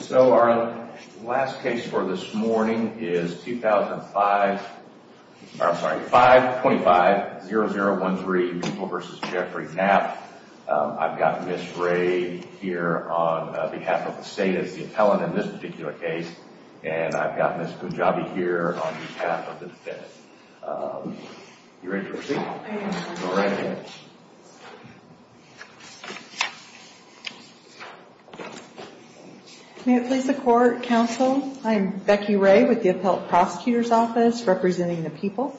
So our last case for this morning is 2005, I'm sorry, 525-0013 People v. Jeffrey Knapp. I've got Ms. Rae here on behalf of the state as the appellant in this particular case, and I've got Ms. Punjabi here on behalf of the defense. You ready to proceed? May it please the court, counsel, I am Becky Rae with the appellant prosecutor's office representing the people.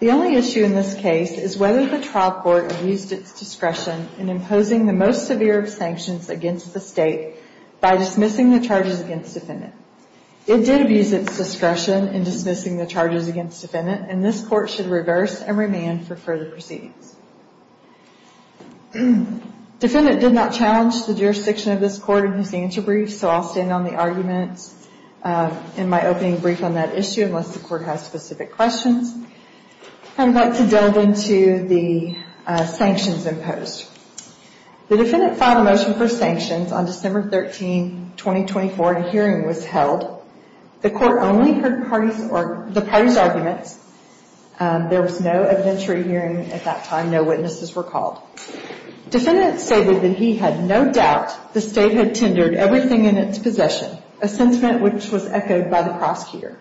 The only issue in this case is whether the trial court abused its discretion in imposing the most severe sanctions against the state by dismissing the charges against the defendant. It did abuse its discretion in dismissing the charges against the defendant, and this Defendant did not challenge the jurisdiction of this court in his answer brief, so I'll stand on the arguments in my opening brief on that issue unless the court has specific questions. I'd like to delve into the sanctions imposed. The defendant filed a motion for sanctions on December 13, 2024, and a hearing was held. The court only heard the parties' arguments. There was no evidentiary hearing at that time. No witnesses were called. Defendant stated that he had no doubt the state had tendered everything in its possession, a sentiment which was echoed by the prosecutor.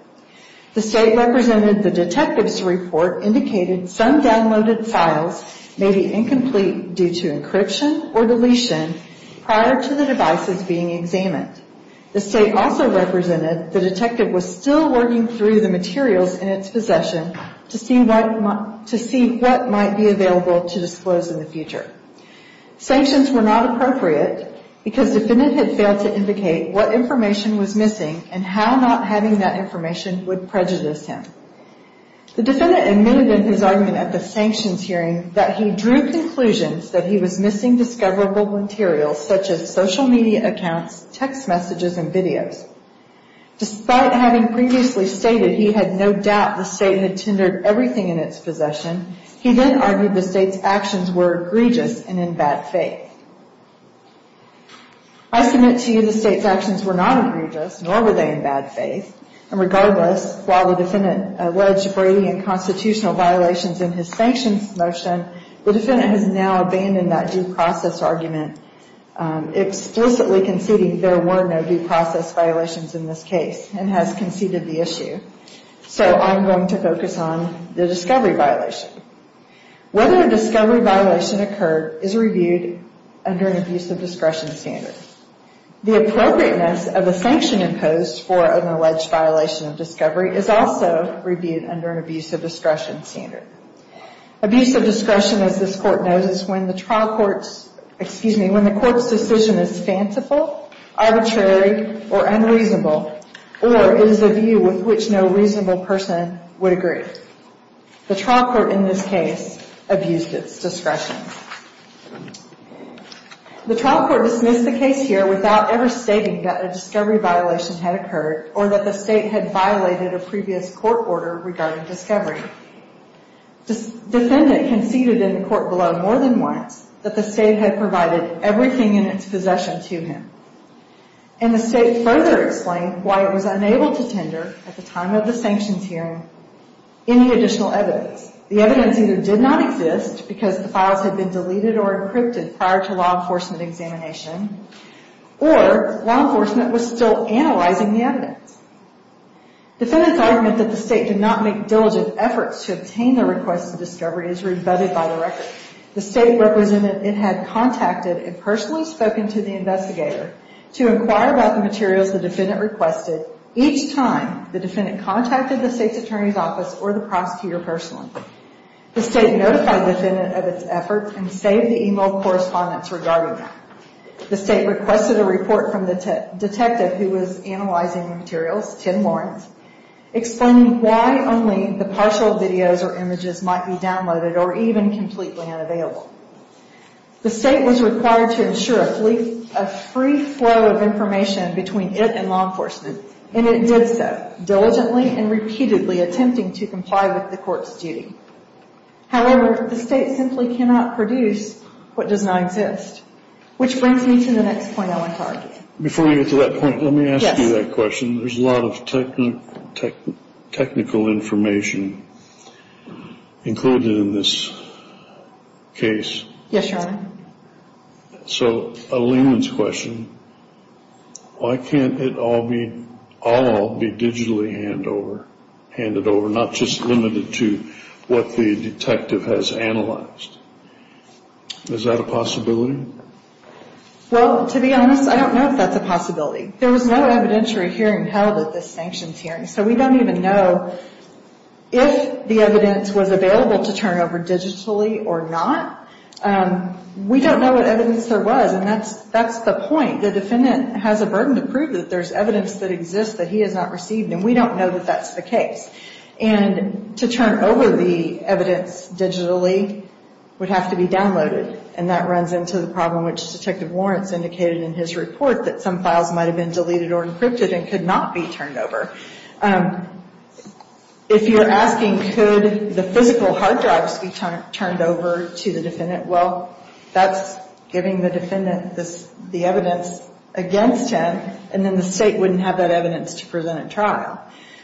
The state represented the detective's report indicated some downloaded files may be incomplete due to encryption or deletion prior to the devices being examined. The state also represented the detective was still working through the materials in its possession to see what might be available to disclose in the future. Sanctions were not appropriate because defendant had failed to indicate what information was missing and how not having that information would prejudice him. The defendant admitted in his argument at the sanctions hearing that he drew conclusions that he was missing discoverable materials such as social media accounts, text messages, and videos. Despite having previously stated he had no doubt the state had tendered everything in its possession, he then argued the state's actions were egregious and in bad faith. I submit to you the state's actions were not egregious, nor were they in bad faith, and regardless, while the defendant alleged Brady and constitutional violations in his sanctions motion, the defendant has now abandoned that due process argument, explicitly conceding there were no due process violations in this case and has conceded the issue. So I'm going to focus on the discovery violation. Whether a discovery violation occurred is reviewed under an abuse of discretion standard. The appropriateness of a sanction imposed for an alleged violation of discovery is also reviewed under an abuse of discretion standard. Abuse of discretion, as this court knows, is when the trial court's, excuse me, when the court's decision is fanciful, arbitrary, or unreasonable, or is a view with which no reasonable person would agree. The trial court in this case abused its discretion. The trial court dismissed the case here without ever stating that a discovery violation had occurred or that the state had violated a previous court order regarding discovery. The defendant conceded in the court below more than once that the state had provided everything in its possession to him, and the state further explained why it was unable to tender, at the time of the sanctions hearing, any additional evidence. The evidence either did not exist because the files had been deleted or encrypted prior to law enforcement examination, or law enforcement was still analyzing the evidence. Defendant's argument that the state did not make diligent efforts to obtain the request of discovery is rebutted by the record. The state represented it had contacted and personally spoken to the investigator to inquire about the materials the defendant requested each time the defendant contacted the state's attorney's office or the prosecutor personally. The state notified the defendant of its efforts and saved the email correspondence regarding that. The state requested a report from the detective who was analyzing the materials, Tim Lawrence, explaining why only the partial videos or images might be downloaded or even completely unavailable. The state was required to ensure at least a free flow of information between it and law enforcement, and it did so diligently and repeatedly, attempting to comply with the court's duty. However, the state simply cannot produce what does not exist, which brings me to the next point I want to argue. Before we get to that point, let me ask you that question. There's a lot of technical information included in this case. Yes, Your Honor. So a layman's question, why can't it all be digitally handed over, not just limited to what the detective has analyzed? Is that a possibility? Well, to be honest, I don't know if that's a possibility. There was no evidentiary hearing held at this sanctions hearing, so we don't even know if the evidence was available to turn over digitally or not. We don't know what evidence there was, and that's the point. The defendant has a burden to prove that there's evidence that exists that he has not received, and we don't know that that's the case. And to turn over the evidence digitally would have to be downloaded, and that runs into the problem which Detective Lawrence indicated in his report, that some files might have been deleted or encrypted and could not be turned over. If you're asking could the physical hard drives be turned over to the defendant, well, that's giving the defendant the evidence against him, and then the state wouldn't have that evidence to present at trial.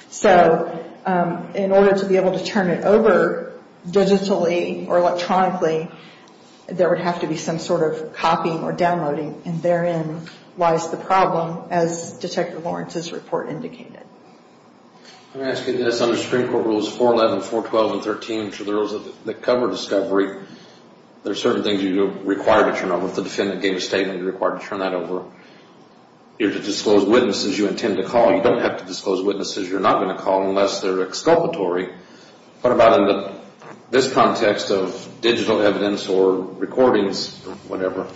So in order to be able to turn it over digitally or electronically, there would have to be some sort of copying or downloading, and therein lies the problem as Detective Lawrence's report indicated. I'm asking this under Supreme Court Rules 411, 412, and 13, which are the rules that cover discovery. There are certain things you're required to turn over. If the defendant gave a statement, you're required to turn that over. You're to disclose witnesses you intend to call. You don't have to disclose witnesses you're not going to call unless they're exculpatory. What about in this context of digital evidence or recordings or whatever?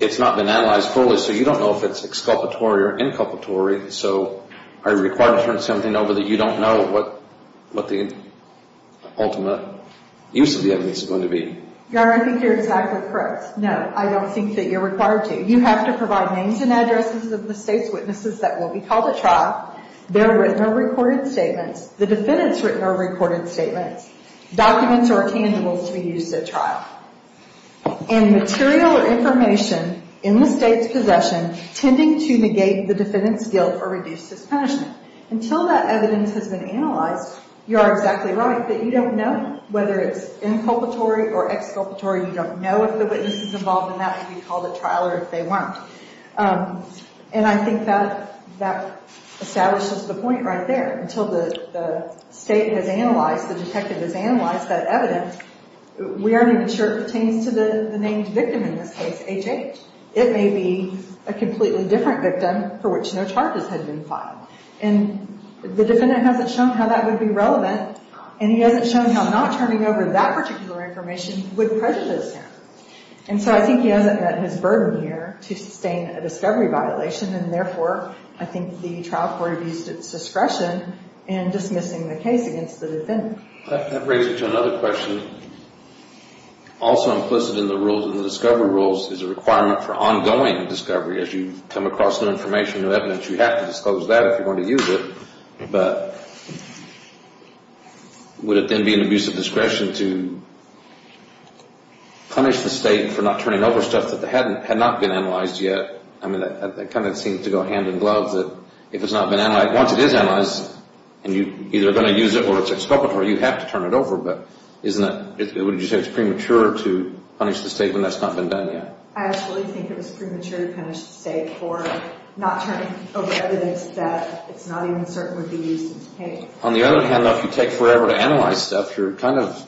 It's not been analyzed fully, so you don't know if it's exculpatory or inculpatory. So are you required to turn something over that you don't know what the ultimate use of the evidence is going to be? Your Honor, I think you're exactly correct. No, I don't think that you're required to. You have to provide names and addresses of the state's witnesses that will be called at trial. There were no recorded statements. The defendant's written or recorded statements. Documents are intangible to be used at trial. And material or information in the state's possession tending to negate the defendant's guilt or reduce his punishment. Until that evidence has been analyzed, you are exactly right that you don't know whether it's inculpatory or exculpatory. You don't know if the witness is involved, and that would be called at trial or if they weren't. And I think that establishes the point right there. Until the state has analyzed, the detective has analyzed that evidence, we aren't even sure it pertains to the named victim in this case, HH. It may be a completely different victim for which no charges had been filed. And the defendant hasn't shown how that would be relevant, and he hasn't shown how not turning over that particular information would prejudice him. And so I think he hasn't met his burden here to sustain a discovery violation, and therefore I think the trial court abused its discretion in dismissing the case against the defendant. That brings me to another question. Also implicit in the rules, in the discovery rules, is a requirement for ongoing discovery. As you come across new information, new evidence, you have to disclose that if you're going to use it. But would it then be an abusive discretion to punish the state for not turning over stuff that had not been analyzed yet? I mean, that kind of seems to go hand in glove that if it's not been analyzed, once it is analyzed and you're either going to use it or it's exculpatory, you have to turn it over. But wouldn't you say it's premature to punish the state when that's not been done yet? I actually think it was premature to punish the state for not turning over evidence that it's not even certain would be used in the case. On the other hand, though, if you take forever to analyze stuff, you're kind of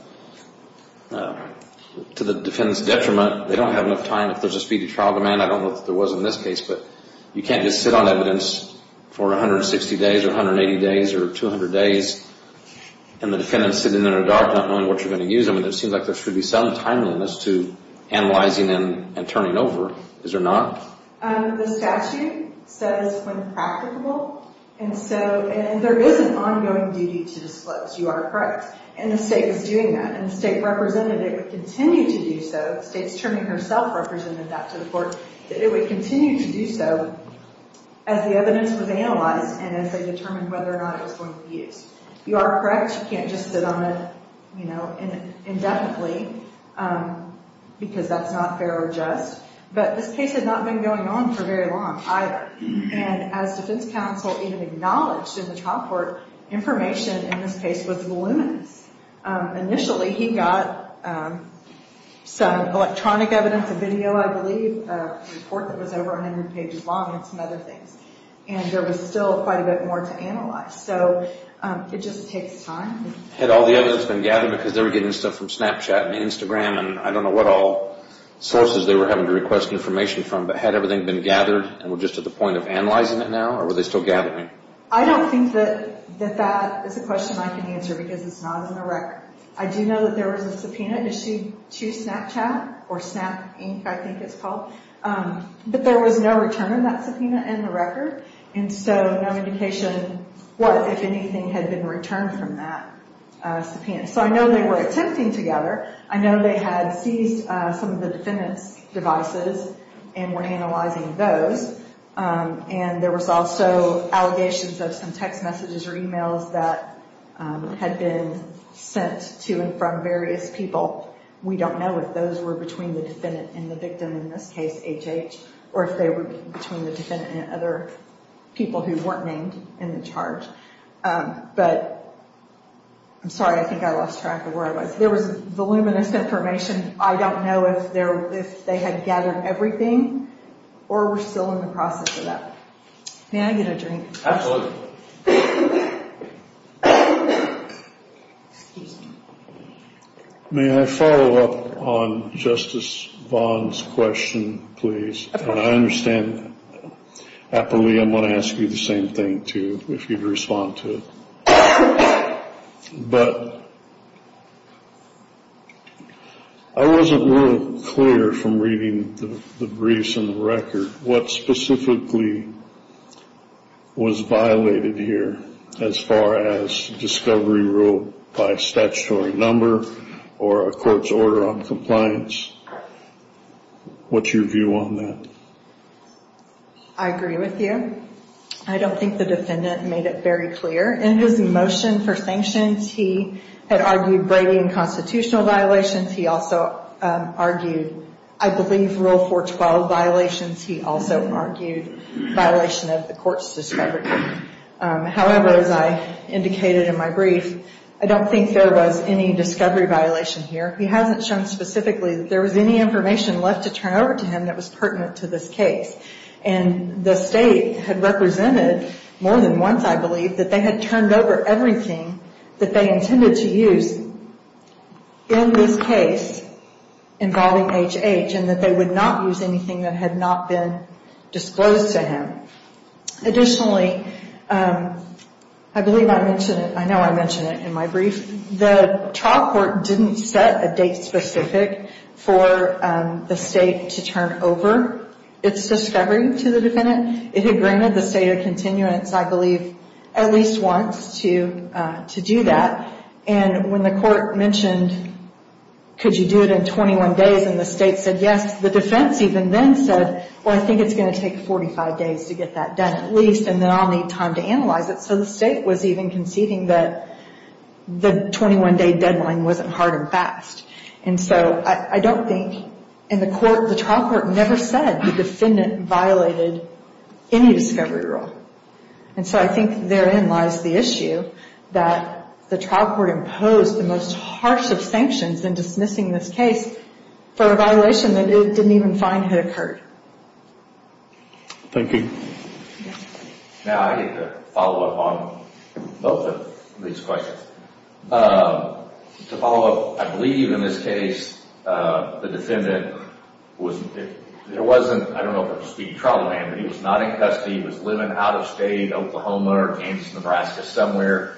to the defendant's detriment. They don't have enough time. If there's a speedy trial demand, I don't know if there was in this case, but you can't just sit on evidence for 160 days or 180 days or 200 days and the defendant's sitting there in the dark not knowing what you're going to use. I mean, it seems like there should be some timeliness to analyzing and turning over. Is there not? The statute says when practicable. And there is an ongoing duty to disclose. You are correct. And the state is doing that. And the state represented it would continue to do so. The state's terming herself represented that to the court, that it would continue to do so as the evidence was analyzed and as they determined whether or not it was going to be used. You are correct. You can't just sit on it indefinitely because that's not fair or just. But this case had not been going on for very long either. And as defense counsel even acknowledged in the trial court, information in this case was voluminous. Initially, he got some electronic evidence, a video, I believe, a report that was over 100 pages long and some other things. And there was still quite a bit more to analyze. So it just takes time. Had all the evidence been gathered because they were getting stuff from Snapchat and Instagram and I don't know what all sources they were having to request information from, but had everything been gathered and were just at the point of analyzing it now or were they still gathering? I don't think that that is a question I can answer because it's not on the record. I do know that there was a subpoena issued to Snapchat or Snap Inc, I think it's called. But there was no return on that subpoena in the record. And so no indication what, if anything, had been returned from that subpoena. So I know they were attempting to gather. I know they had seized some of the defendant's devices and were analyzing those. And there was also allegations of some text messages or e-mails that had been sent to and from various people. We don't know if those were between the defendant and the victim, in this case HH, or if they were between the defendant and other people who weren't named in the charge. But I'm sorry, I think I lost track of where I was. There was voluminous information. I don't know if they had gathered everything or were still in the process of that. May I get a drink? Absolutely. May I follow up on Justice Vaughn's question, please? Of course. And I understand happily I'm going to ask you the same thing, too, if you'd respond to it. But I wasn't real clear from reading the briefs and the record what specifically was violated here as far as discovery rule by statutory number or a court's order on compliance. What's your view on that? I agree with you. I don't think the defendant made it very clear. In his motion for sanctions, he had argued Brady and constitutional violations. He also argued, I believe, Rule 412 violations. He also argued violation of the court's discovery. However, as I indicated in my brief, I don't think there was any discovery violation here. He hasn't shown specifically that there was any information left to turn over to him that was pertinent to this case. And the State had represented more than once, I believe, that they had turned over everything that they intended to use in this case involving H.H. and that they would not use anything that had not been disclosed to him. Additionally, I believe I mentioned it. I know I mentioned it in my brief. The trial court didn't set a date specific for the State to turn over its discovery to the defendant. It had granted the State a continuance, I believe, at least once to do that. And when the court mentioned, could you do it in 21 days, and the State said yes, the defense even then said, well, I think it's going to take 45 days to get that done at least, and then I'll need time to analyze it. So the State was even conceding that the 21-day deadline wasn't hard and fast. And so I don't think, and the trial court never said the defendant violated any discovery rule. And so I think therein lies the issue that the trial court imposed the most harsh of sanctions in dismissing this case for a violation that it didn't even find had occurred. Thank you. Now I get to follow up on both of these questions. To follow up, I believe in this case the defendant was, there wasn't, I don't know if it was a speedy trial, but he was not in custody, he was living out of state, Oklahoma or Kansas, Nebraska, somewhere.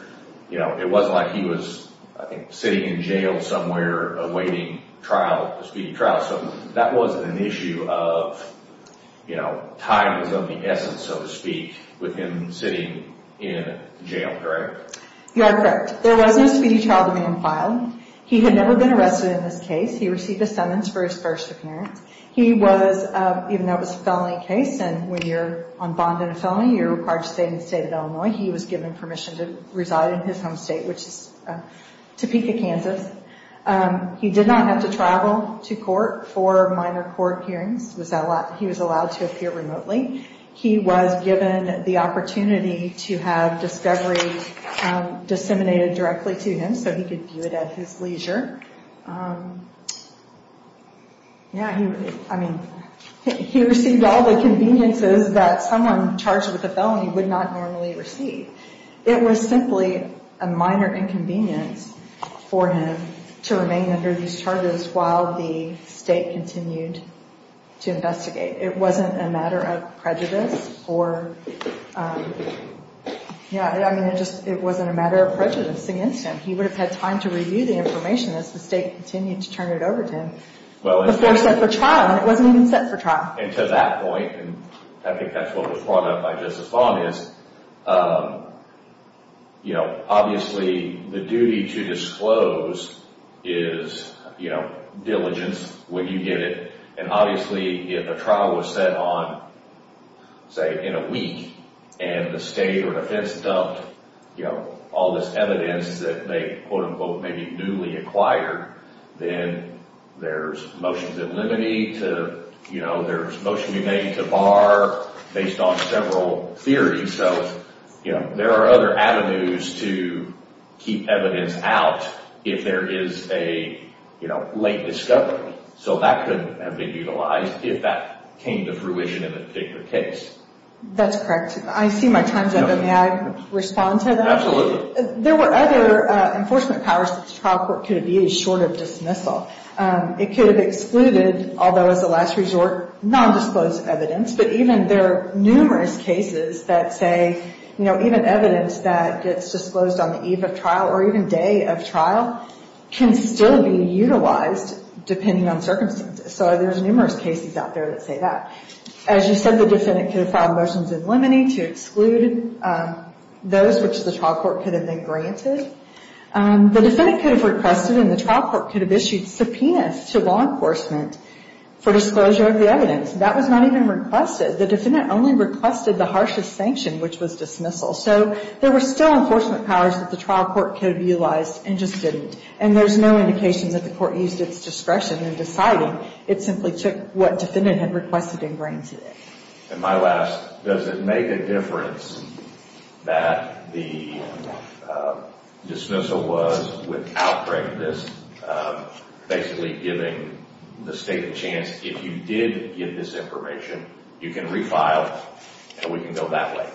It wasn't like he was sitting in jail somewhere awaiting trial, a speedy trial. So that wasn't an issue of, you know, time is of the essence, so to speak, with him sitting in jail, correct? You are correct. There was no speedy trial demand filed. He had never been arrested in this case. He received a sentence for his first appearance. He was, even though it was a felony case, and when you're on bond in a felony, you're required to stay in the State of Illinois, he was given permission to reside in his home state, which is Topeka, Kansas. He did not have to travel to court for minor court hearings. He was allowed to appear remotely. He was given the opportunity to have discovery disseminated directly to him so he could view it at his leisure. Yeah, I mean, he received all the conveniences that someone charged with a felony would not normally receive. It was simply a minor inconvenience for him to remain under these charges while the state continued to investigate. It wasn't a matter of prejudice or, yeah, I mean, it just wasn't a matter of prejudice against him. He would have had time to review the information as the state continued to turn it over to him before he was set for trial, and it wasn't even set for trial. And to that point, and I think that's what was brought up by Justice Vaughn is, you know, obviously the duty to disclose is, you know, diligence when you get it, and obviously if a trial was set on, say, in a week and the state or defense dumped, you know, all this evidence that they, quote, unquote, maybe newly acquired, then there's motions of limity to, you know, there's motion to bar based on several theories. So, you know, there are other avenues to keep evidence out if there is a, you know, late discovery. So that could have been utilized if that came to fruition in a particular case. That's correct. I see my time's up, and may I respond to that? Absolutely. There were other enforcement powers that the trial court could have used short of dismissal. It could have excluded, although as a last resort, nondisclosed evidence, but even there are numerous cases that say, you know, even evidence that gets disclosed on the eve of trial or even day of trial can still be utilized depending on circumstances. So there's numerous cases out there that say that. As you said, the defendant could have filed motions of limity to exclude those which the trial court could have then granted. The defendant could have requested and the trial court could have issued subpoenas to law enforcement for disclosure of the evidence. That was not even requested. The defendant only requested the harshest sanction, which was dismissal. So there were still enforcement powers that the trial court could have utilized and just didn't, and there's no indication that the court used its discretion in deciding. It simply took what defendant had requested and granted it. And my last, does it make a difference that the dismissal was, without correctness, basically giving the state a chance, if you did get this information, you can refile and we can go that way?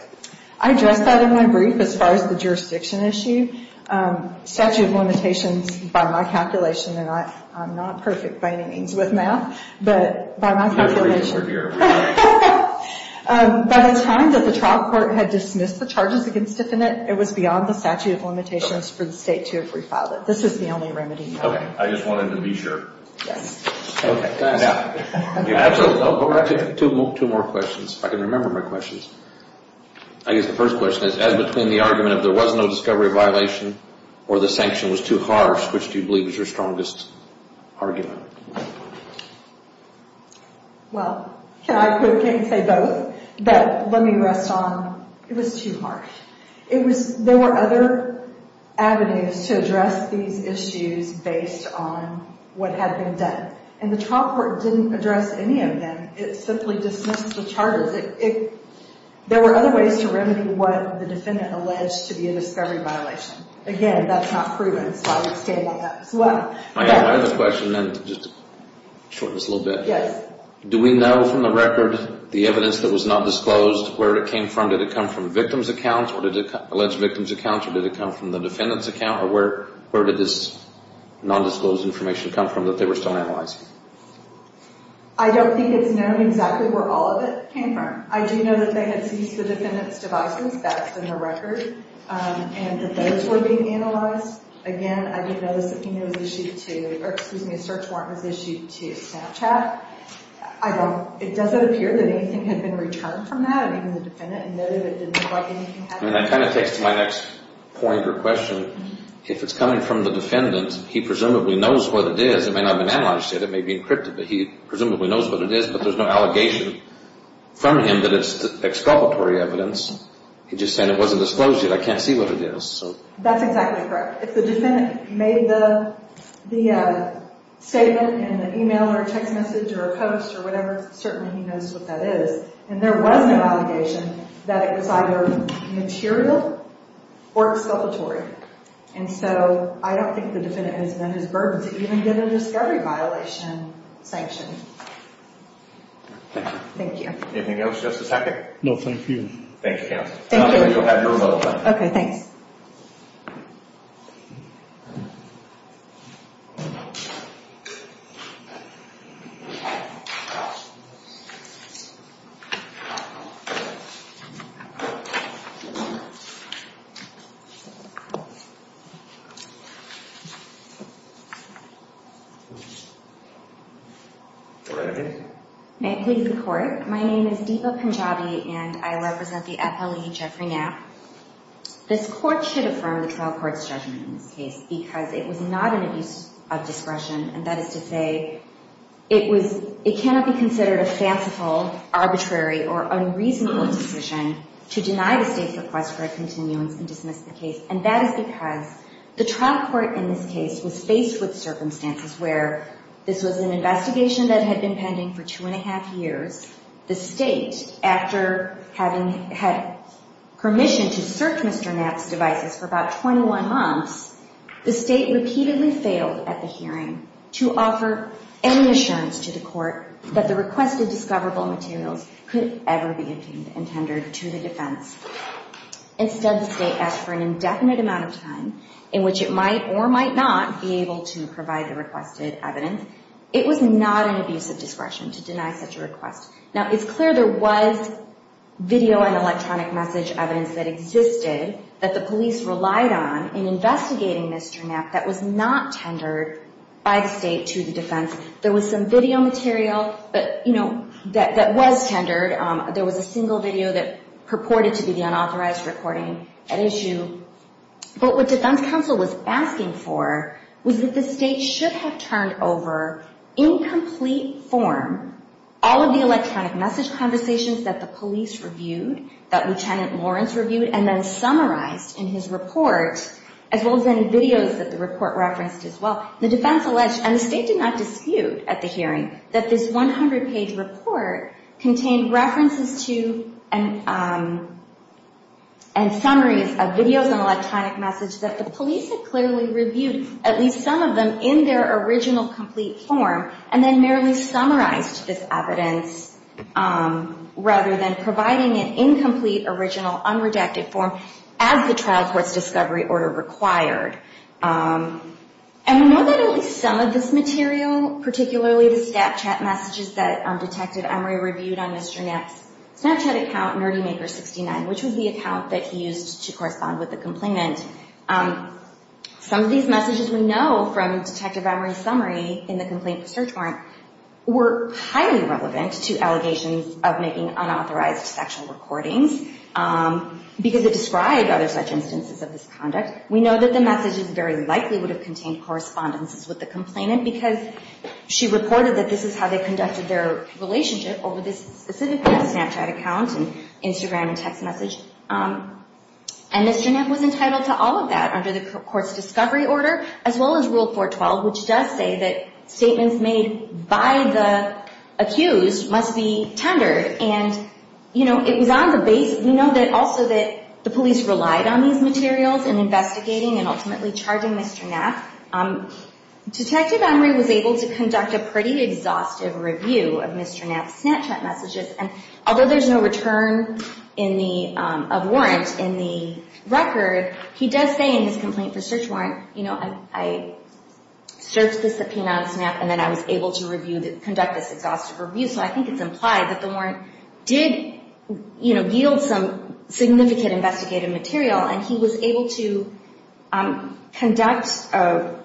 I addressed that in my brief as far as the jurisdiction issue. Statute of limitations, by my calculation, and I'm not perfect by any means with math, but by my calculation. By the time that the trial court had dismissed the charges against the defendant, it was beyond the statute of limitations for the state to have refiled it. This is the only remedy. Okay. I just wanted to be sure. Yes. Okay. Two more questions, if I can remember my questions. I guess the first question is, as between the argument of there was no discovery of violation or the sanction was too harsh, which do you believe is your strongest argument? Well, can I say both? But let me rest on it was too harsh. There were other avenues to address these issues based on what had been done, and the trial court didn't address any of them. It simply dismissed the charges. There were other ways to remedy what the defendant alleged to be a discovery violation. Again, that's not proven, so I would stand by that as well. I have a question, and just to shorten this a little bit. Yes. Do we know from the record the evidence that was not disclosed where it came from? Did it come from the victim's account, or did it come from the alleged victim's account, or did it come from the defendant's account? Or where did this nondisclosed information come from that they were still analyzing? I don't think it's known exactly where all of it came from. I do know that they had seized the defendant's devices. That's in the record, and that those were being analyzed. Again, I did notice that a search warrant was issued to Snapchat. It doesn't appear that anything had been returned from that, even the defendant, and none of it did look like anything had been returned. That kind of takes to my next point or question. If it's coming from the defendant, he presumably knows what it is. It may not have been analyzed yet. It may be encrypted, but he presumably knows what it is. But there's no allegation from him that it's exculpatory evidence. He just said it wasn't disclosed yet. I can't see what it is. That's exactly correct. If the defendant made the statement in an email or text message or a post or whatever, certainly he knows what that is. And there was no allegation that it was either material or exculpatory. And so I don't think the defendant has met his burdens. He didn't get a discovery violation sanction. Thank you. Anything else, Justice Hackett? No, thank you. Thank you, counsel. You'll have your rebuttal. Okay, thanks. All right. May it please the Court. My name is Deepa Punjabi, and I represent the FLE Jeffrey Knapp. This Court should affirm the trial court's judgment in this case because it was not an abuse of discretion, and that is to say it cannot be considered a fanciful, arbitrary, or unreasonable decision to deny the State's request for a continuance and dismiss the case. And that is because the trial court in this case was faced with circumstances where this was an investigation that had been pending for two and a half years. The State, after having had permission to search Mr. Knapp's devices for about 21 months, the State repeatedly failed at the hearing to offer any assurance to the Court that the requested discoverable materials could ever be intended to the defense. Instead, the State asked for an indefinite amount of time in which it might or might not be able to provide the requested evidence. It was not an abuse of discretion to deny such a request. Now, it's clear there was video and electronic message evidence that existed that the police relied on in investigating Mr. Knapp that was not tendered by the State to the defense. There was some video material that was tendered. There was a single video that purported to be the unauthorized recording at issue. But what defense counsel was asking for was that the State should have turned over, in complete form, all of the electronic message conversations that the police reviewed, that Lieutenant Lawrence reviewed, and then summarized in his report, as well as in videos that the report referenced as well. The defense alleged, and the State did not dispute at the hearing, that this 100-page report contained references to and summaries of videos and electronic message that the police had clearly reviewed at least some of them in their original, complete form, and then merely summarized this evidence rather than providing an incomplete, original, unredacted form as the trial court's discovery order required. And we know that at least some of this material, particularly the Snapchat messages that Detective Emery reviewed on Mr. Knapp's Snapchat account, NerdyMaker69, which was the account that he used to correspond with the complainant, some of these messages we know from Detective Emery's summary in the complaint for search warrant were highly relevant to allegations of making unauthorized sexual recordings because it described other such instances of this conduct. We know that the messages very likely would have contained correspondences with the complainant because she reported that this is how they conducted their relationship over this specific Snapchat account and Instagram and text message. And Mr. Knapp was entitled to all of that under the court's discovery order, as well as Rule 412, which does say that statements made by the accused must be tendered. And, you know, it was on the base, we know that also that the police relied on these materials in investigating and ultimately charging Mr. Knapp. Detective Emery was able to conduct a pretty exhaustive review of Mr. Knapp's Snapchat messages, and although there's no return of warrant in the record, he does say in his complaint for search warrant, you know, I searched the subpoena on Snap and then I was able to conduct this exhaustive review, so I think it's implied that the warrant did, you know, yield some significant investigative material and he was able to conduct an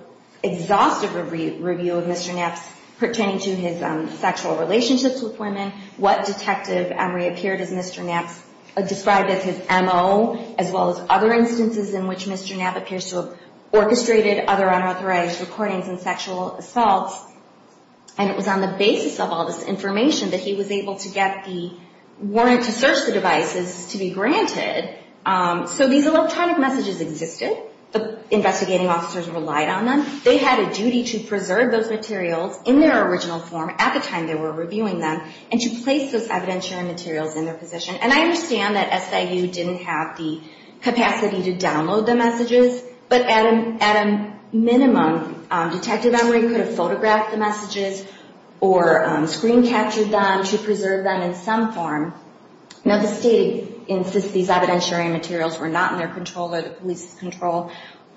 exhaustive review of Mr. Knapp's pertaining to his sexual relationships with women, what Detective Emery appeared as Mr. Knapp's, described as his MO, as well as other instances in which Mr. Knapp appears to have orchestrated other unauthorized recordings and sexual assaults. And it was on the basis of all this information that he was able to get the warrant to search the devices to be granted. So these electronic messages existed. The investigating officers relied on them. They had a duty to preserve those materials in their original form at the time they were reviewing them and to place those evidentiary materials in their possession. And I understand that SIU didn't have the capacity to download the messages, but at a minimum, Detective Emery could have photographed the messages or screen captured them to preserve them in some form. Now, the state insists these evidentiary materials were not in their control or the police's control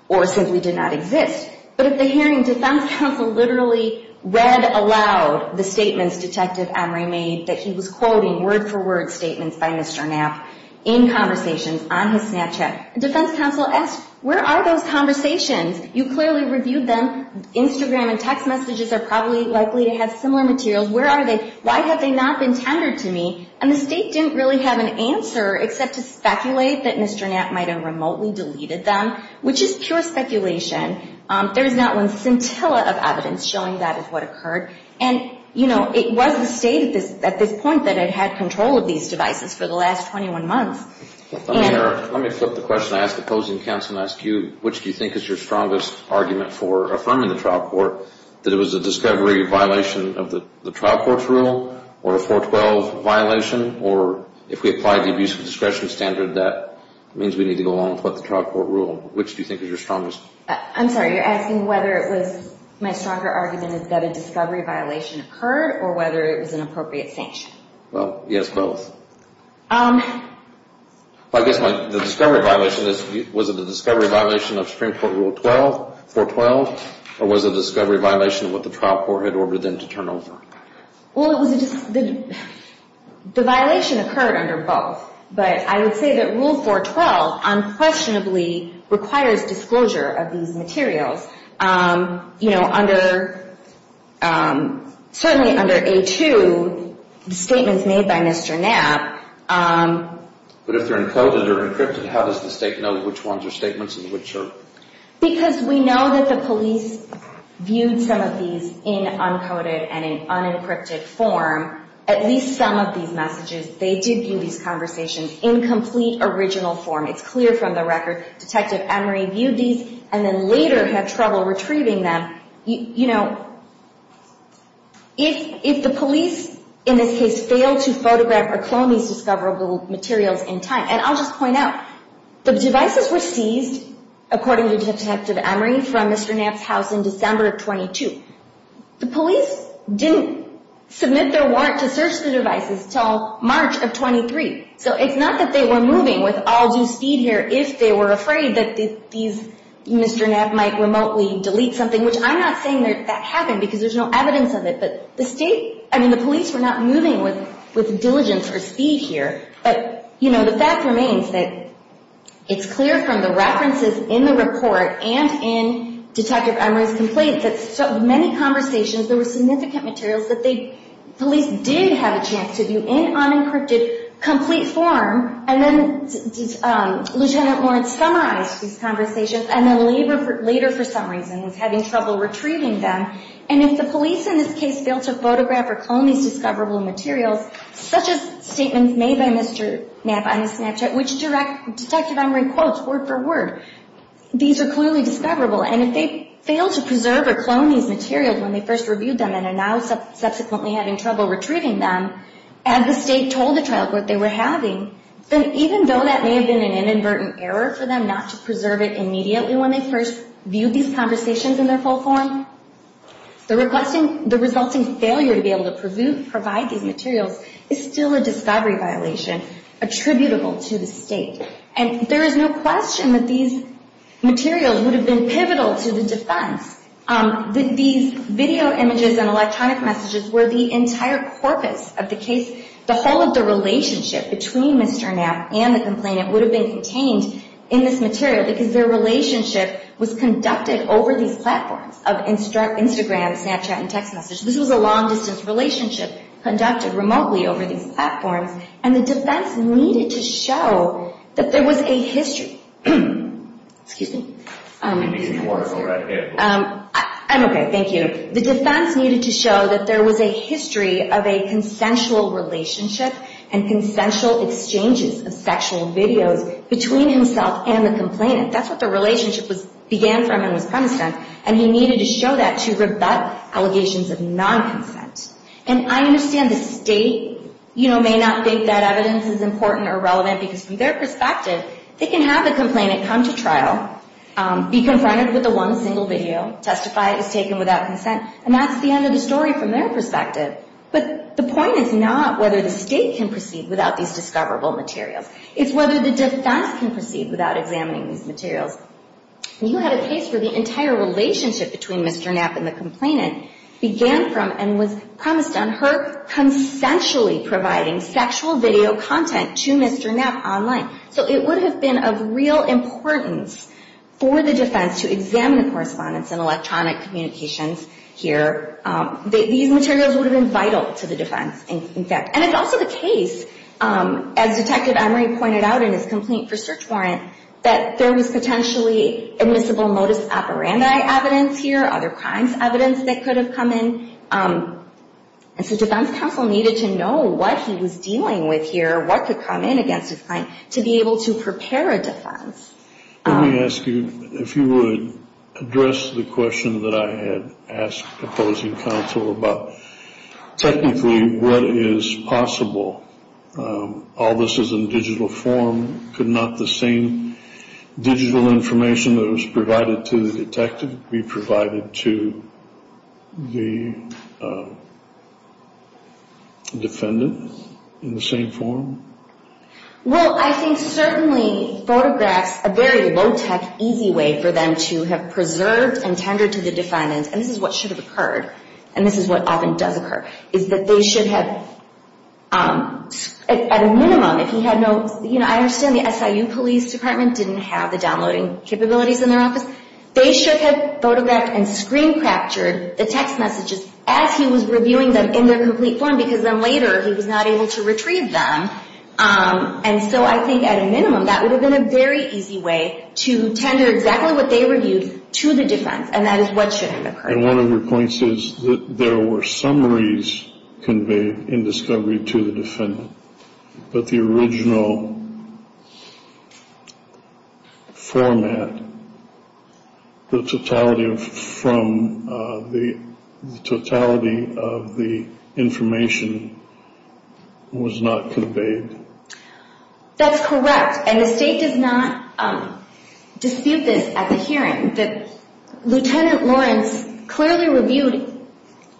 or simply did not exist. But at the hearing, defense counsel literally read aloud the statements Detective Emery made that he was quoting word-for-word statements by Mr. Knapp in conversations on his Snapchat. And defense counsel asked, where are those conversations? You clearly reviewed them. Instagram and text messages are probably likely to have similar materials. Where are they? Why have they not been tendered to me? And the state didn't really have an answer except to speculate that Mr. Knapp might have remotely deleted them, which is pure speculation. There is not one scintilla of evidence showing that is what occurred. And, you know, it was the state at this point that had had control of these devices for the last 21 months. Let me flip the question. I ask opposing counsel and ask you, which do you think is your strongest argument for affirming the trial court, that it was a discovery violation of the trial court's rule or a 412 violation or if we apply the abusive discretion standard, that means we need to go along with what the trial court ruled. Which do you think is your strongest? I'm sorry. You're asking whether it was my stronger argument is that a discovery violation occurred or whether it was an appropriate sanction. Well, yes, both. I guess the discovery violation, was it a discovery violation of Supreme Court Rule 412 or was it a discovery violation of what the trial court had ordered them to turn over? Well, the violation occurred under both. But I would say that Rule 412 unquestionably requires disclosure of these materials. You know, certainly under A2, the statements made by Mr. Knapp. But if they're encoded or encrypted, how does the state know which ones are statements and which are? Because we know that the police viewed some of these in uncoded and in unencrypted form. At least some of these messages, they did view these conversations in complete original form. It's clear from the record. Detective Emery viewed these and then later had trouble retrieving them. You know, if the police, in this case, failed to photograph or clone these discoverable materials in time, and I'll just point out, the devices were seized, according to Detective Emery, from Mr. Knapp's house in December of 22. The police didn't submit their warrant to search the devices until March of 23. So it's not that they were moving with all due speed here if they were afraid that these, Mr. Knapp might remotely delete something, which I'm not saying that happened because there's no evidence of it. But the state, I mean, the police were not moving with diligence or speed here. But, you know, the fact remains that it's clear from the references in the report and in Detective Emery's complaints that so many conversations, there were significant materials that the police did have a chance to view in unencrypted, complete form, and then Lieutenant Lawrence summarized these conversations and then later, for some reason, was having trouble retrieving them. And if the police, in this case, failed to photograph or clone these discoverable materials, such as statements made by Mr. Knapp on the Snapchat, which Detective Emery quotes word for word, these are clearly discoverable. And if they failed to preserve or clone these materials when they first reviewed them and are now subsequently having trouble retrieving them, as the state told the trial court they were having, then even though that may have been an inadvertent error for them not to preserve it immediately when they first viewed these conversations in their full form, the resulting failure to be able to provide these materials is still a discovery violation attributable to the state. And there is no question that these materials would have been pivotal to the defense. These video images and electronic messages were the entire corpus of the case. The whole of the relationship between Mr. Knapp and the complainant would have been contained in this material because their relationship was conducted over these platforms of Instagram, Snapchat, and text messages. This was a long-distance relationship conducted remotely over these platforms, and the defense needed to show that there was a history of a consensual relationship and consensual exchanges of sexual videos between himself and the complainant. That's what the relationship began from and was premised on. And he needed to show that to rebut allegations of non-consent. And I understand the state may not think that evidence is important or relevant because from their perspective, they can have the complainant come to trial, be confronted with the one single video, testify it was taken without consent, and that's the end of the story from their perspective. But the point is not whether the state can proceed without these discoverable materials. It's whether the defense can proceed without examining these materials. You had a case where the entire relationship between Mr. Knapp and the complainant began from and was premised on her consensually providing sexual video content to Mr. Knapp online. So it would have been of real importance for the defense to examine the correspondence and electronic communications here. These materials would have been vital to the defense, in fact. And it's also the case, as Detective Emery pointed out in his complaint for search warrant, that there was potentially admissible modus operandi evidence here, other crimes evidence that could have come in. And so defense counsel needed to know what he was dealing with here, what could come in against his claim, to be able to prepare a defense. Let me ask you if you would address the question that I had asked the opposing counsel about technically what is possible. All this is in digital form. Could not the same digital information that was provided to the detective be provided to the defendant in the same form? Well, I think certainly photographs, a very low-tech, easy way for them to have preserved and tendered to the defendant, and this is what should have occurred, and this is what often does occur, is that they should have, at a minimum, if he had no, you know, I understand the SIU Police Department didn't have the downloading capabilities in their office. They should have photographed and screen-captured the text messages as he was reviewing them in their complete form, because then later he was not able to retrieve them. And so I think, at a minimum, that would have been a very easy way to tender exactly what they reviewed to the defense, and that is what should have occurred. And one of your points is that there were summaries conveyed in discovery to the defendant, but the original format, the totality of the information was not conveyed. That's correct, and the State does not dispute this at the hearing. Lieutenant Lawrence clearly reviewed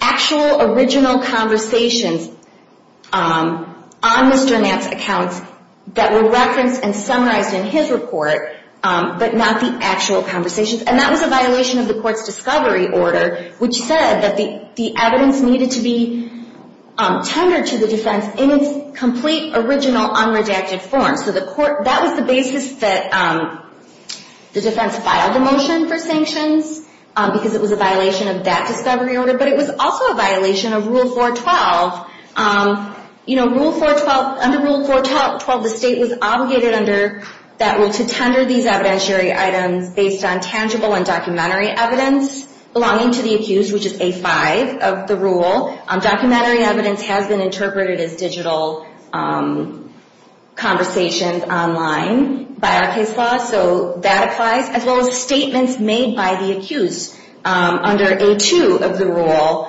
actual, original conversations on Mr. Nantz's accounts that were referenced and summarized in his report, but not the actual conversations, and that was a violation of the court's discovery order, which said that the evidence needed to be tendered to the defense in its complete, original, unredacted form. So that was the basis that the defense filed a motion for sanctions, because it was a violation of that discovery order, but it was also a violation of Rule 412. Under Rule 412, the State was obligated under that rule to tender these evidentiary items based on tangible and documentary evidence belonging to the accused, which is A5 of the rule. Documentary evidence has been interpreted as digital conversations online by our case law, so that applies, as well as statements made by the accused under A2 of the rule.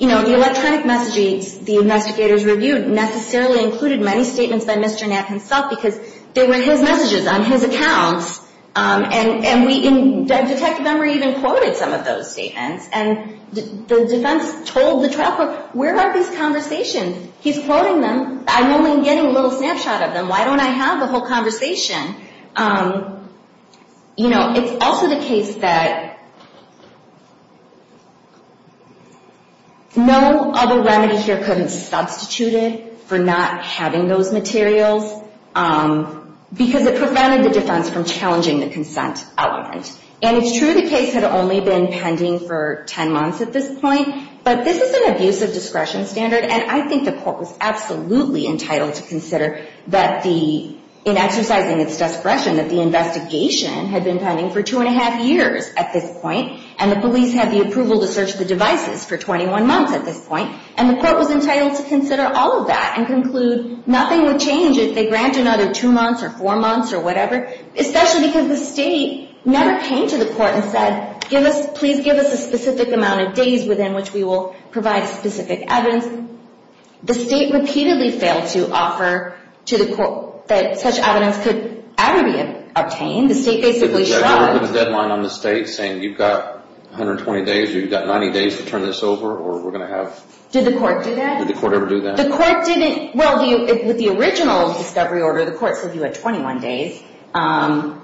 You know, the electronic messages the investigators reviewed necessarily included many statements by Mr. Nantz himself, because they were his messages on his accounts, and Detective Emory even quoted some of those statements, and the defense told the trial court, where are these conversations? He's quoting them. I'm only getting a little snapshot of them. Why don't I have the whole conversation? You know, it's also the case that no other remedy here could have substituted for not having those materials, because it prevented the defense from challenging the consent element, and it's true the case had only been pending for 10 months at this point, but this is an abusive discretion standard, and I think the court was absolutely entitled to consider that the, in exercising its discretion, that the investigation had been pending for two and a half years at this point, and the police had the approval to search the devices for 21 months at this point, and the court was entitled to consider all of that and conclude nothing would change if they granted another two months or four months or whatever, especially because the state never came to the court and said, please give us a specific amount of days within which we will provide specific evidence. The state repeatedly failed to offer to the court that such evidence could ever be obtained. The state basically shrugged. Did the court have a deadline on the state saying you've got 120 days or you've got 90 days to turn this over, or we're going to have... Did the court do that? Did the court ever do that? The court didn't... Well, with the original discovery order, the court said you had 21 days, and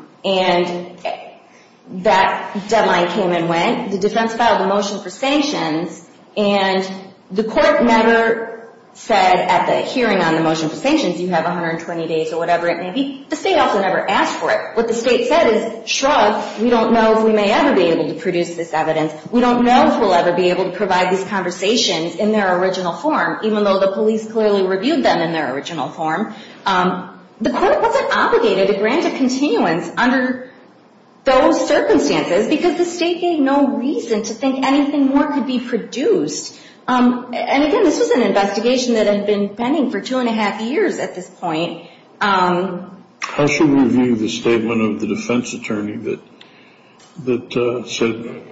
that deadline came and went. The defense filed a motion for sanctions, and the court never said at the hearing on the motion for sanctions you have 120 days or whatever it may be. The state also never asked for it. What the state said is, shrug, we don't know if we may ever be able to produce this evidence. We don't know if we'll ever be able to provide these conversations in their original form, even though the police clearly reviewed them in their original form. The court wasn't obligated to grant a continuance under those circumstances because the state gave no reason to think anything more could be produced. Again, this was an investigation that had been pending for two and a half years at this point. How should we view the statement of the defense attorney that said,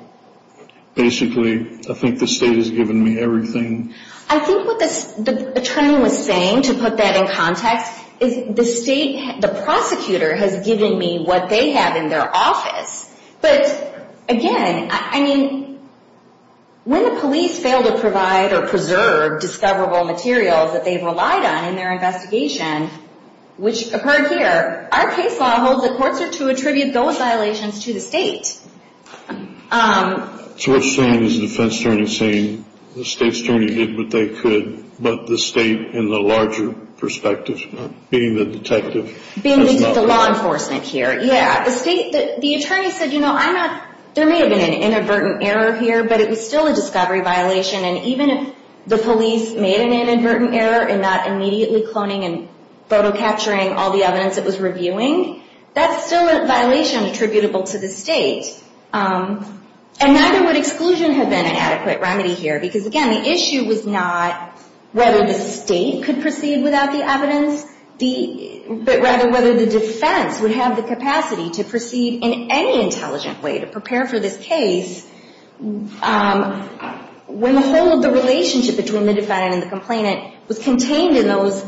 basically, I think the state has given me everything? I think what the attorney was saying, to put that in context, is the state, the prosecutor, has given me what they have in their office. But, again, I mean, when the police fail to provide or preserve discoverable materials that they've relied on in their investigation, which occurred here, our case law holds that courts are to attribute those violations to the state. So what you're saying is the defense attorney is saying the state's attorney did what they could, but the state, in the larger perspective, being the detective, has not? Being the law enforcement here, yeah. The state, the attorney said, you know, I'm not, there may have been an inadvertent error here, but it was still a discovery violation, and even if the police made an inadvertent error in not immediately cloning and photo capturing all the evidence it was reviewing, that's still a violation attributable to the state. And neither would exclusion have been an adequate remedy here, because, again, the issue was not whether the state could proceed without the evidence, but rather whether the defense would have the capacity to proceed in any intelligent way to prepare for this case when the whole of the relationship between the defendant and the complainant was contained in those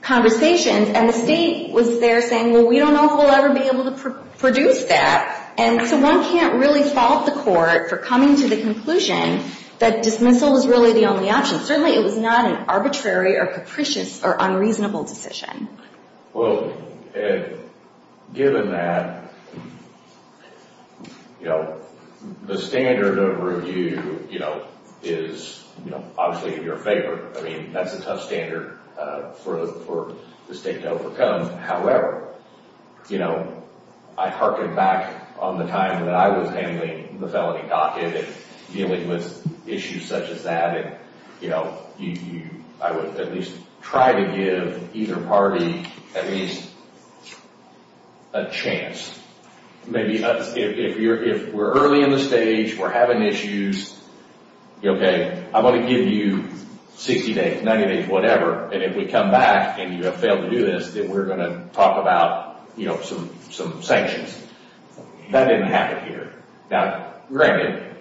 conversations, and the state was there saying, well, we don't know if we'll ever be able to produce that. And so one can't really fault the court for coming to the conclusion that dismissal was really the only option. Certainly it was not an arbitrary or capricious or unreasonable decision. Well, given that, you know, the standard of review, you know, is obviously in your favor. I mean, that's a tough standard for the state to overcome. However, you know, I harken back on the time that I was handling the felony docket and dealing with issues such as that, and, you know, I would at least try to give either party at least a chance. Maybe if we're early in the stage, we're having issues, okay, I'm going to give you 60 days, 90 days, whatever, and if we come back and you have failed to do this, then we're going to talk about, you know, some sanctions. That didn't happen here. Now, Brandon,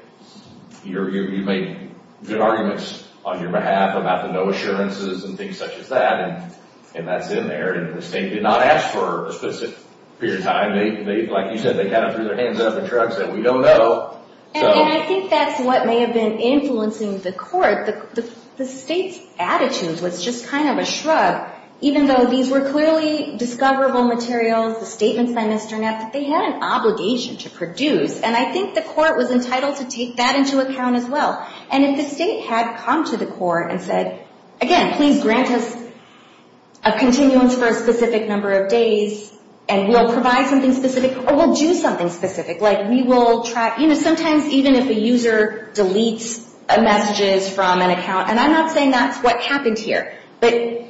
you made good arguments on your behalf about the no assurances and things such as that, and that's in there, and the state did not ask for a specific period of time. Like you said, they kind of threw their hands up and shrugged and said, we don't know. And I think that's what may have been influencing the court. The state's attitude was just kind of a shrug, even though these were clearly discoverable materials, the statements by Mr. Knapp, that they had an obligation to produce, and I think the court was entitled to take that into account as well. And if the state had come to the court and said, again, please grant us a continuance for a specific number of days and we'll provide something specific or we'll do something specific, like we will track, you know, sometimes even if a user deletes messages from an account, and I'm not saying that's what happened here, but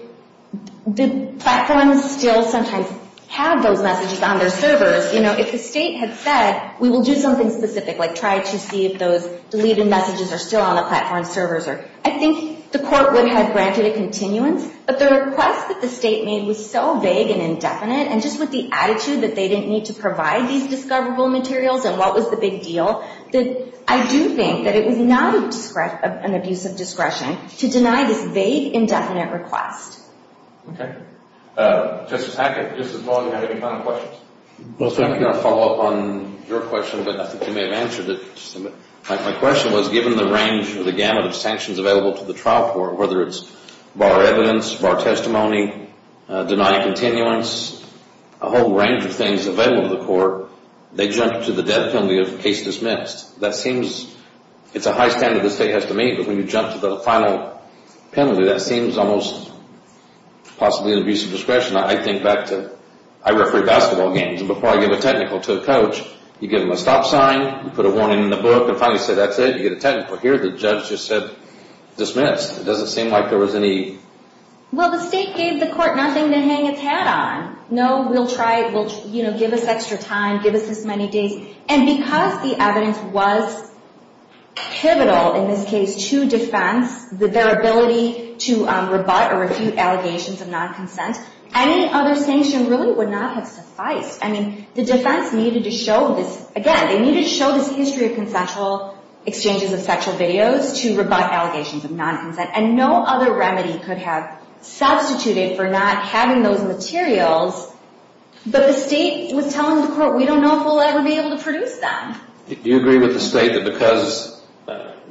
the platforms still sometimes have those messages on their servers. You know, if the state had said, we will do something specific, like try to see if those deleted messages are still on the platform servers, I think the court would have granted a continuance. But the request that the state made was so vague and indefinite, and just with the attitude that they didn't need to provide these discoverable materials and what was the big deal, that I do think that it was not an abuse of discretion to deny this vague, indefinite request. Okay. Justice Hackett, just as long as you have any final questions. Well, sir, I'm going to follow up on your question, but I think you may have answered it. My question was, given the range or the gamut of sanctions available to the trial court, whether it's bar evidence, bar testimony, denying continuance, a whole range of things available to the court, they jumped to the death penalty of case dismissed. That seems, it's a high standard the state has to meet, but when you jump to the final penalty, that seems almost possibly an abuse of discretion. I think back to, I referee basketball games, and before I give a technical to a coach, you give them a stop sign, you put a warning in the book, and finally say that's it, you get a technical. Here, the judge just said dismissed. It doesn't seem like there was any... Well, the state gave the court nothing to hang its hat on. No, we'll try it, we'll, you know, give us extra time, give us this many days. And because the evidence was pivotal in this case to defense, their ability to rebut or refute allegations of non-consent, any other sanction really would not have sufficed. I mean, the defense needed to show this, again, they needed to show this history of consensual exchanges of sexual videos to rebut allegations of non-consent, and no other remedy could have substituted for not having those materials, but the state was telling the court we don't know if we'll ever be able to produce them. Do you agree with the state that because,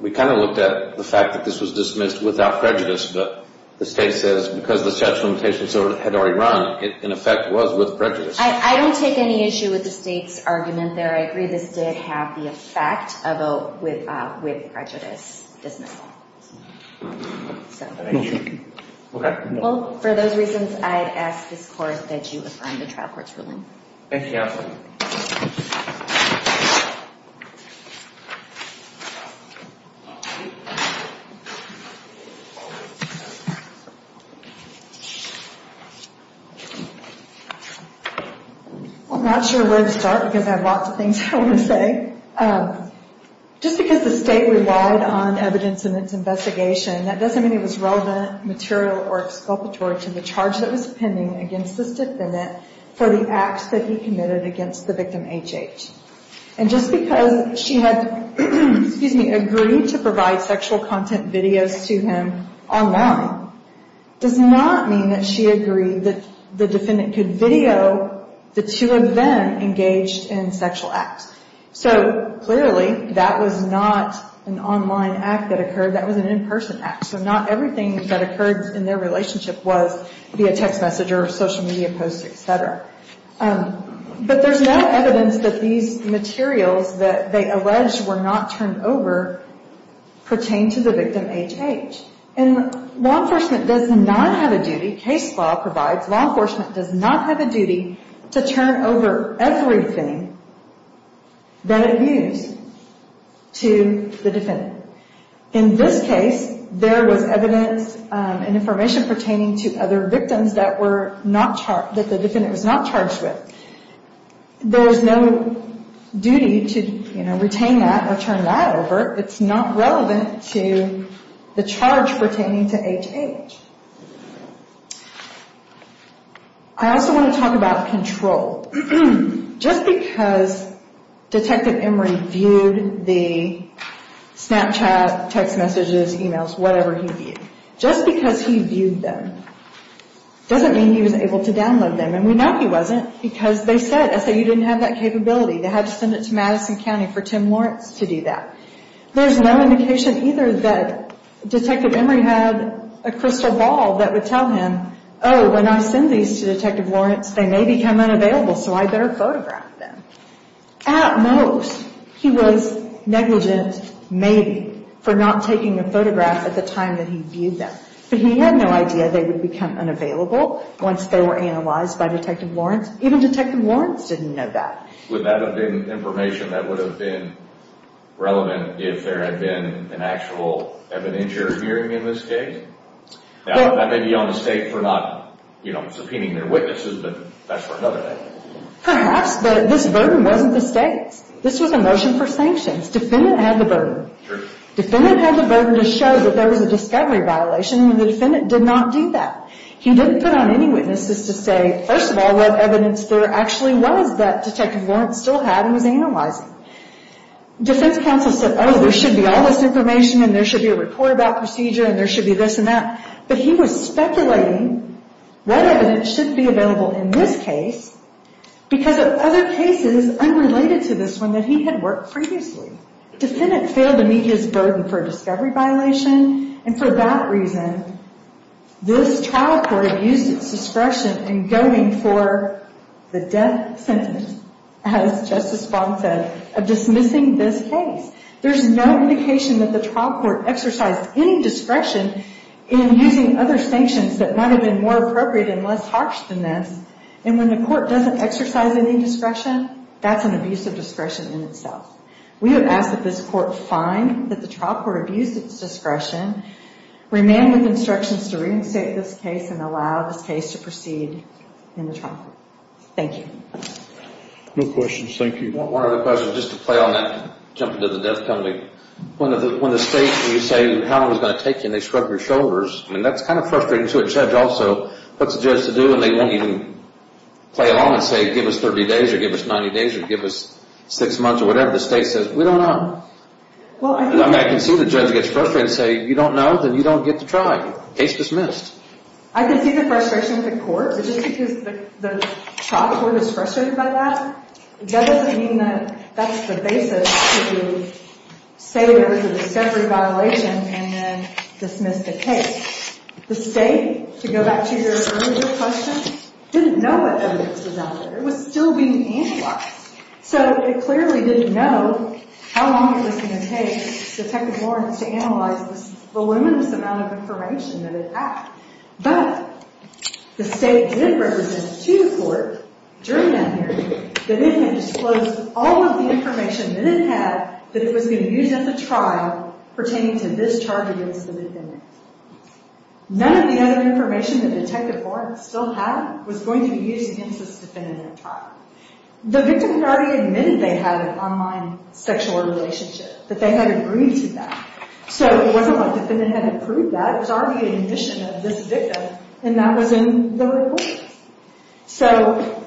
we kind of looked at the fact that this was dismissed without prejudice, but the state says because the sexual limitations had already run, it in effect was with prejudice? I don't take any issue with the state's argument there. I agree this did have the effect of a with prejudice dismissal. Okay. Well, for those reasons, I'd ask this court that you affirm the trial court's ruling. Thank you. Well, I'm not sure where to start because I have lots of things I want to say. Just because the state relied on evidence in its investigation, that doesn't mean it was relevant, material, or exculpatory to the charge that was pending against this defendant for the acts that he committed against the victim, HH. And just because she had agreed to provide sexual content videos to him online does not mean that she agreed that the defendant could video the two of them engaged in sexual acts. So, clearly, that was not an online act that occurred. That was an in-person act. So not everything that occurred in their relationship was via text message or social media posts, etc. But there's no evidence that these materials that they alleged were not turned over pertain to the victim, HH. And law enforcement does not have a duty, case law provides, law enforcement does not have a duty to turn over everything that it views to the defendant. In this case, there was evidence and information pertaining to other victims that the defendant was not charged with. There is no duty to retain that or turn that over. It's not relevant to the charge pertaining to HH. I also want to talk about control. Just because Detective Emory viewed the Snapchat, text messages, emails, whatever he viewed, just because he viewed them doesn't mean he was able to download them. And we know he wasn't because they said, SAU didn't have that capability. They had to send it to Madison County for Tim Lawrence to do that. There's no indication either that Detective Emory had a crystal ball that would tell him, oh, when I send these to Detective Lawrence, they may become unavailable, so I better photograph them. At most, he was negligent, maybe, for not taking a photograph at the time that he viewed them. But he had no idea they would become unavailable once they were analyzed by Detective Lawrence. Even Detective Lawrence didn't know that. Would that have been information that would have been relevant if there had been an actual evidentiary hearing in this case? That may be on the state for not subpoenaing their witnesses, but that's for another day. Perhaps, but this burden wasn't the state's. This was a motion for sanctions. Defendant had the burden. Defendant had the burden to show that there was a discovery violation, and the defendant did not do that. He didn't put on any witnesses to say, first of all, what evidence there actually was that Detective Lawrence still had and was analyzing. Defense counsel said, oh, there should be all this information, and there should be a report about procedure, and there should be this and that. But he was speculating what evidence should be available in this case because of other cases unrelated to this one that he had worked previously. Defendant failed to meet his burden for a discovery violation, and for that reason, this trial court abused its discretion in going for the death sentence, as Justice Bond said, of dismissing this case. There's no indication that the trial court exercised any discretion in using other sanctions that might have been more appropriate and less harsh than this, and when the court doesn't exercise any discretion, that's an abuse of discretion in itself. We would ask that this court find that the trial court abused its discretion, remain with instructions to reinstate this case, and allow this case to proceed in the trial court. Thank you. No questions. Thank you. One other question, just to play on that, jumping to the death penalty. When the state, when you say, how long is it going to take you, and they shrug your shoulders, I mean, that's kind of frustrating to a judge also. What's the judge to do when they won't even play along and say, give us 30 days or give us 90 days or give us six months or whatever? The state says, we don't know. I can see the judge gets frustrated and say, you don't know? Then you don't get to try. Case dismissed. I can see the frustration with the court, but just because the trial court is frustrated by that, that doesn't mean that that's the basis to say there was a separate violation and then dismiss the case. The state, to go back to your earlier question, didn't know what evidence was out there. It was still being analyzed. So it clearly didn't know how long it was going to take Detective Lawrence to analyze this voluminous amount of information that it had. But the state did represent to the court, during that hearing, that it had disclosed all of the information that it had that it was going to use at the trial pertaining to this charge against the defendant. None of the other information that Detective Lawrence still had was going to be used against this defendant at trial. The victim had already admitted they had an online sexual relationship, that they had agreed to that. So it wasn't like the defendant had approved that. It was already an admission of this victim, and that was in the report. So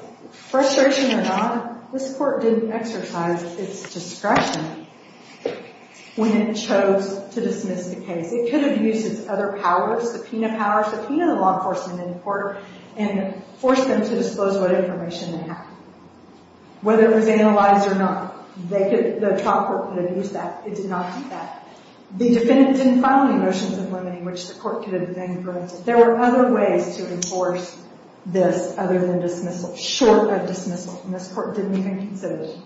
frustration or not, this court didn't exercise its discretion when it chose to dismiss the case. It could have used its other powers, subpoena powers, subpoena the law enforcement in court, and forced them to disclose what information they had. Whether it was analyzed or not, the trial court could have used that. It did not do that. The defendant didn't file any motions of limiting which the court could have then granted. There were other ways to enforce this other than dismissal, short of dismissal, and this court didn't even consider it.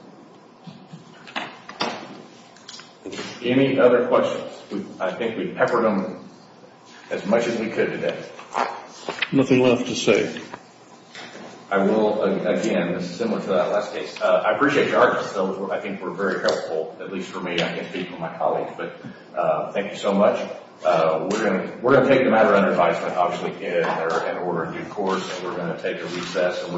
Any other questions? I think we've peppered them as much as we could today. Nothing left to say. I will, again, this is similar to that last case. I appreciate your artist, though. I think we're very helpful, at least for me. I can't speak for my colleagues, but thank you so much. We're going to take the matter under advisement, obviously, in order in due course. We're going to take a recess.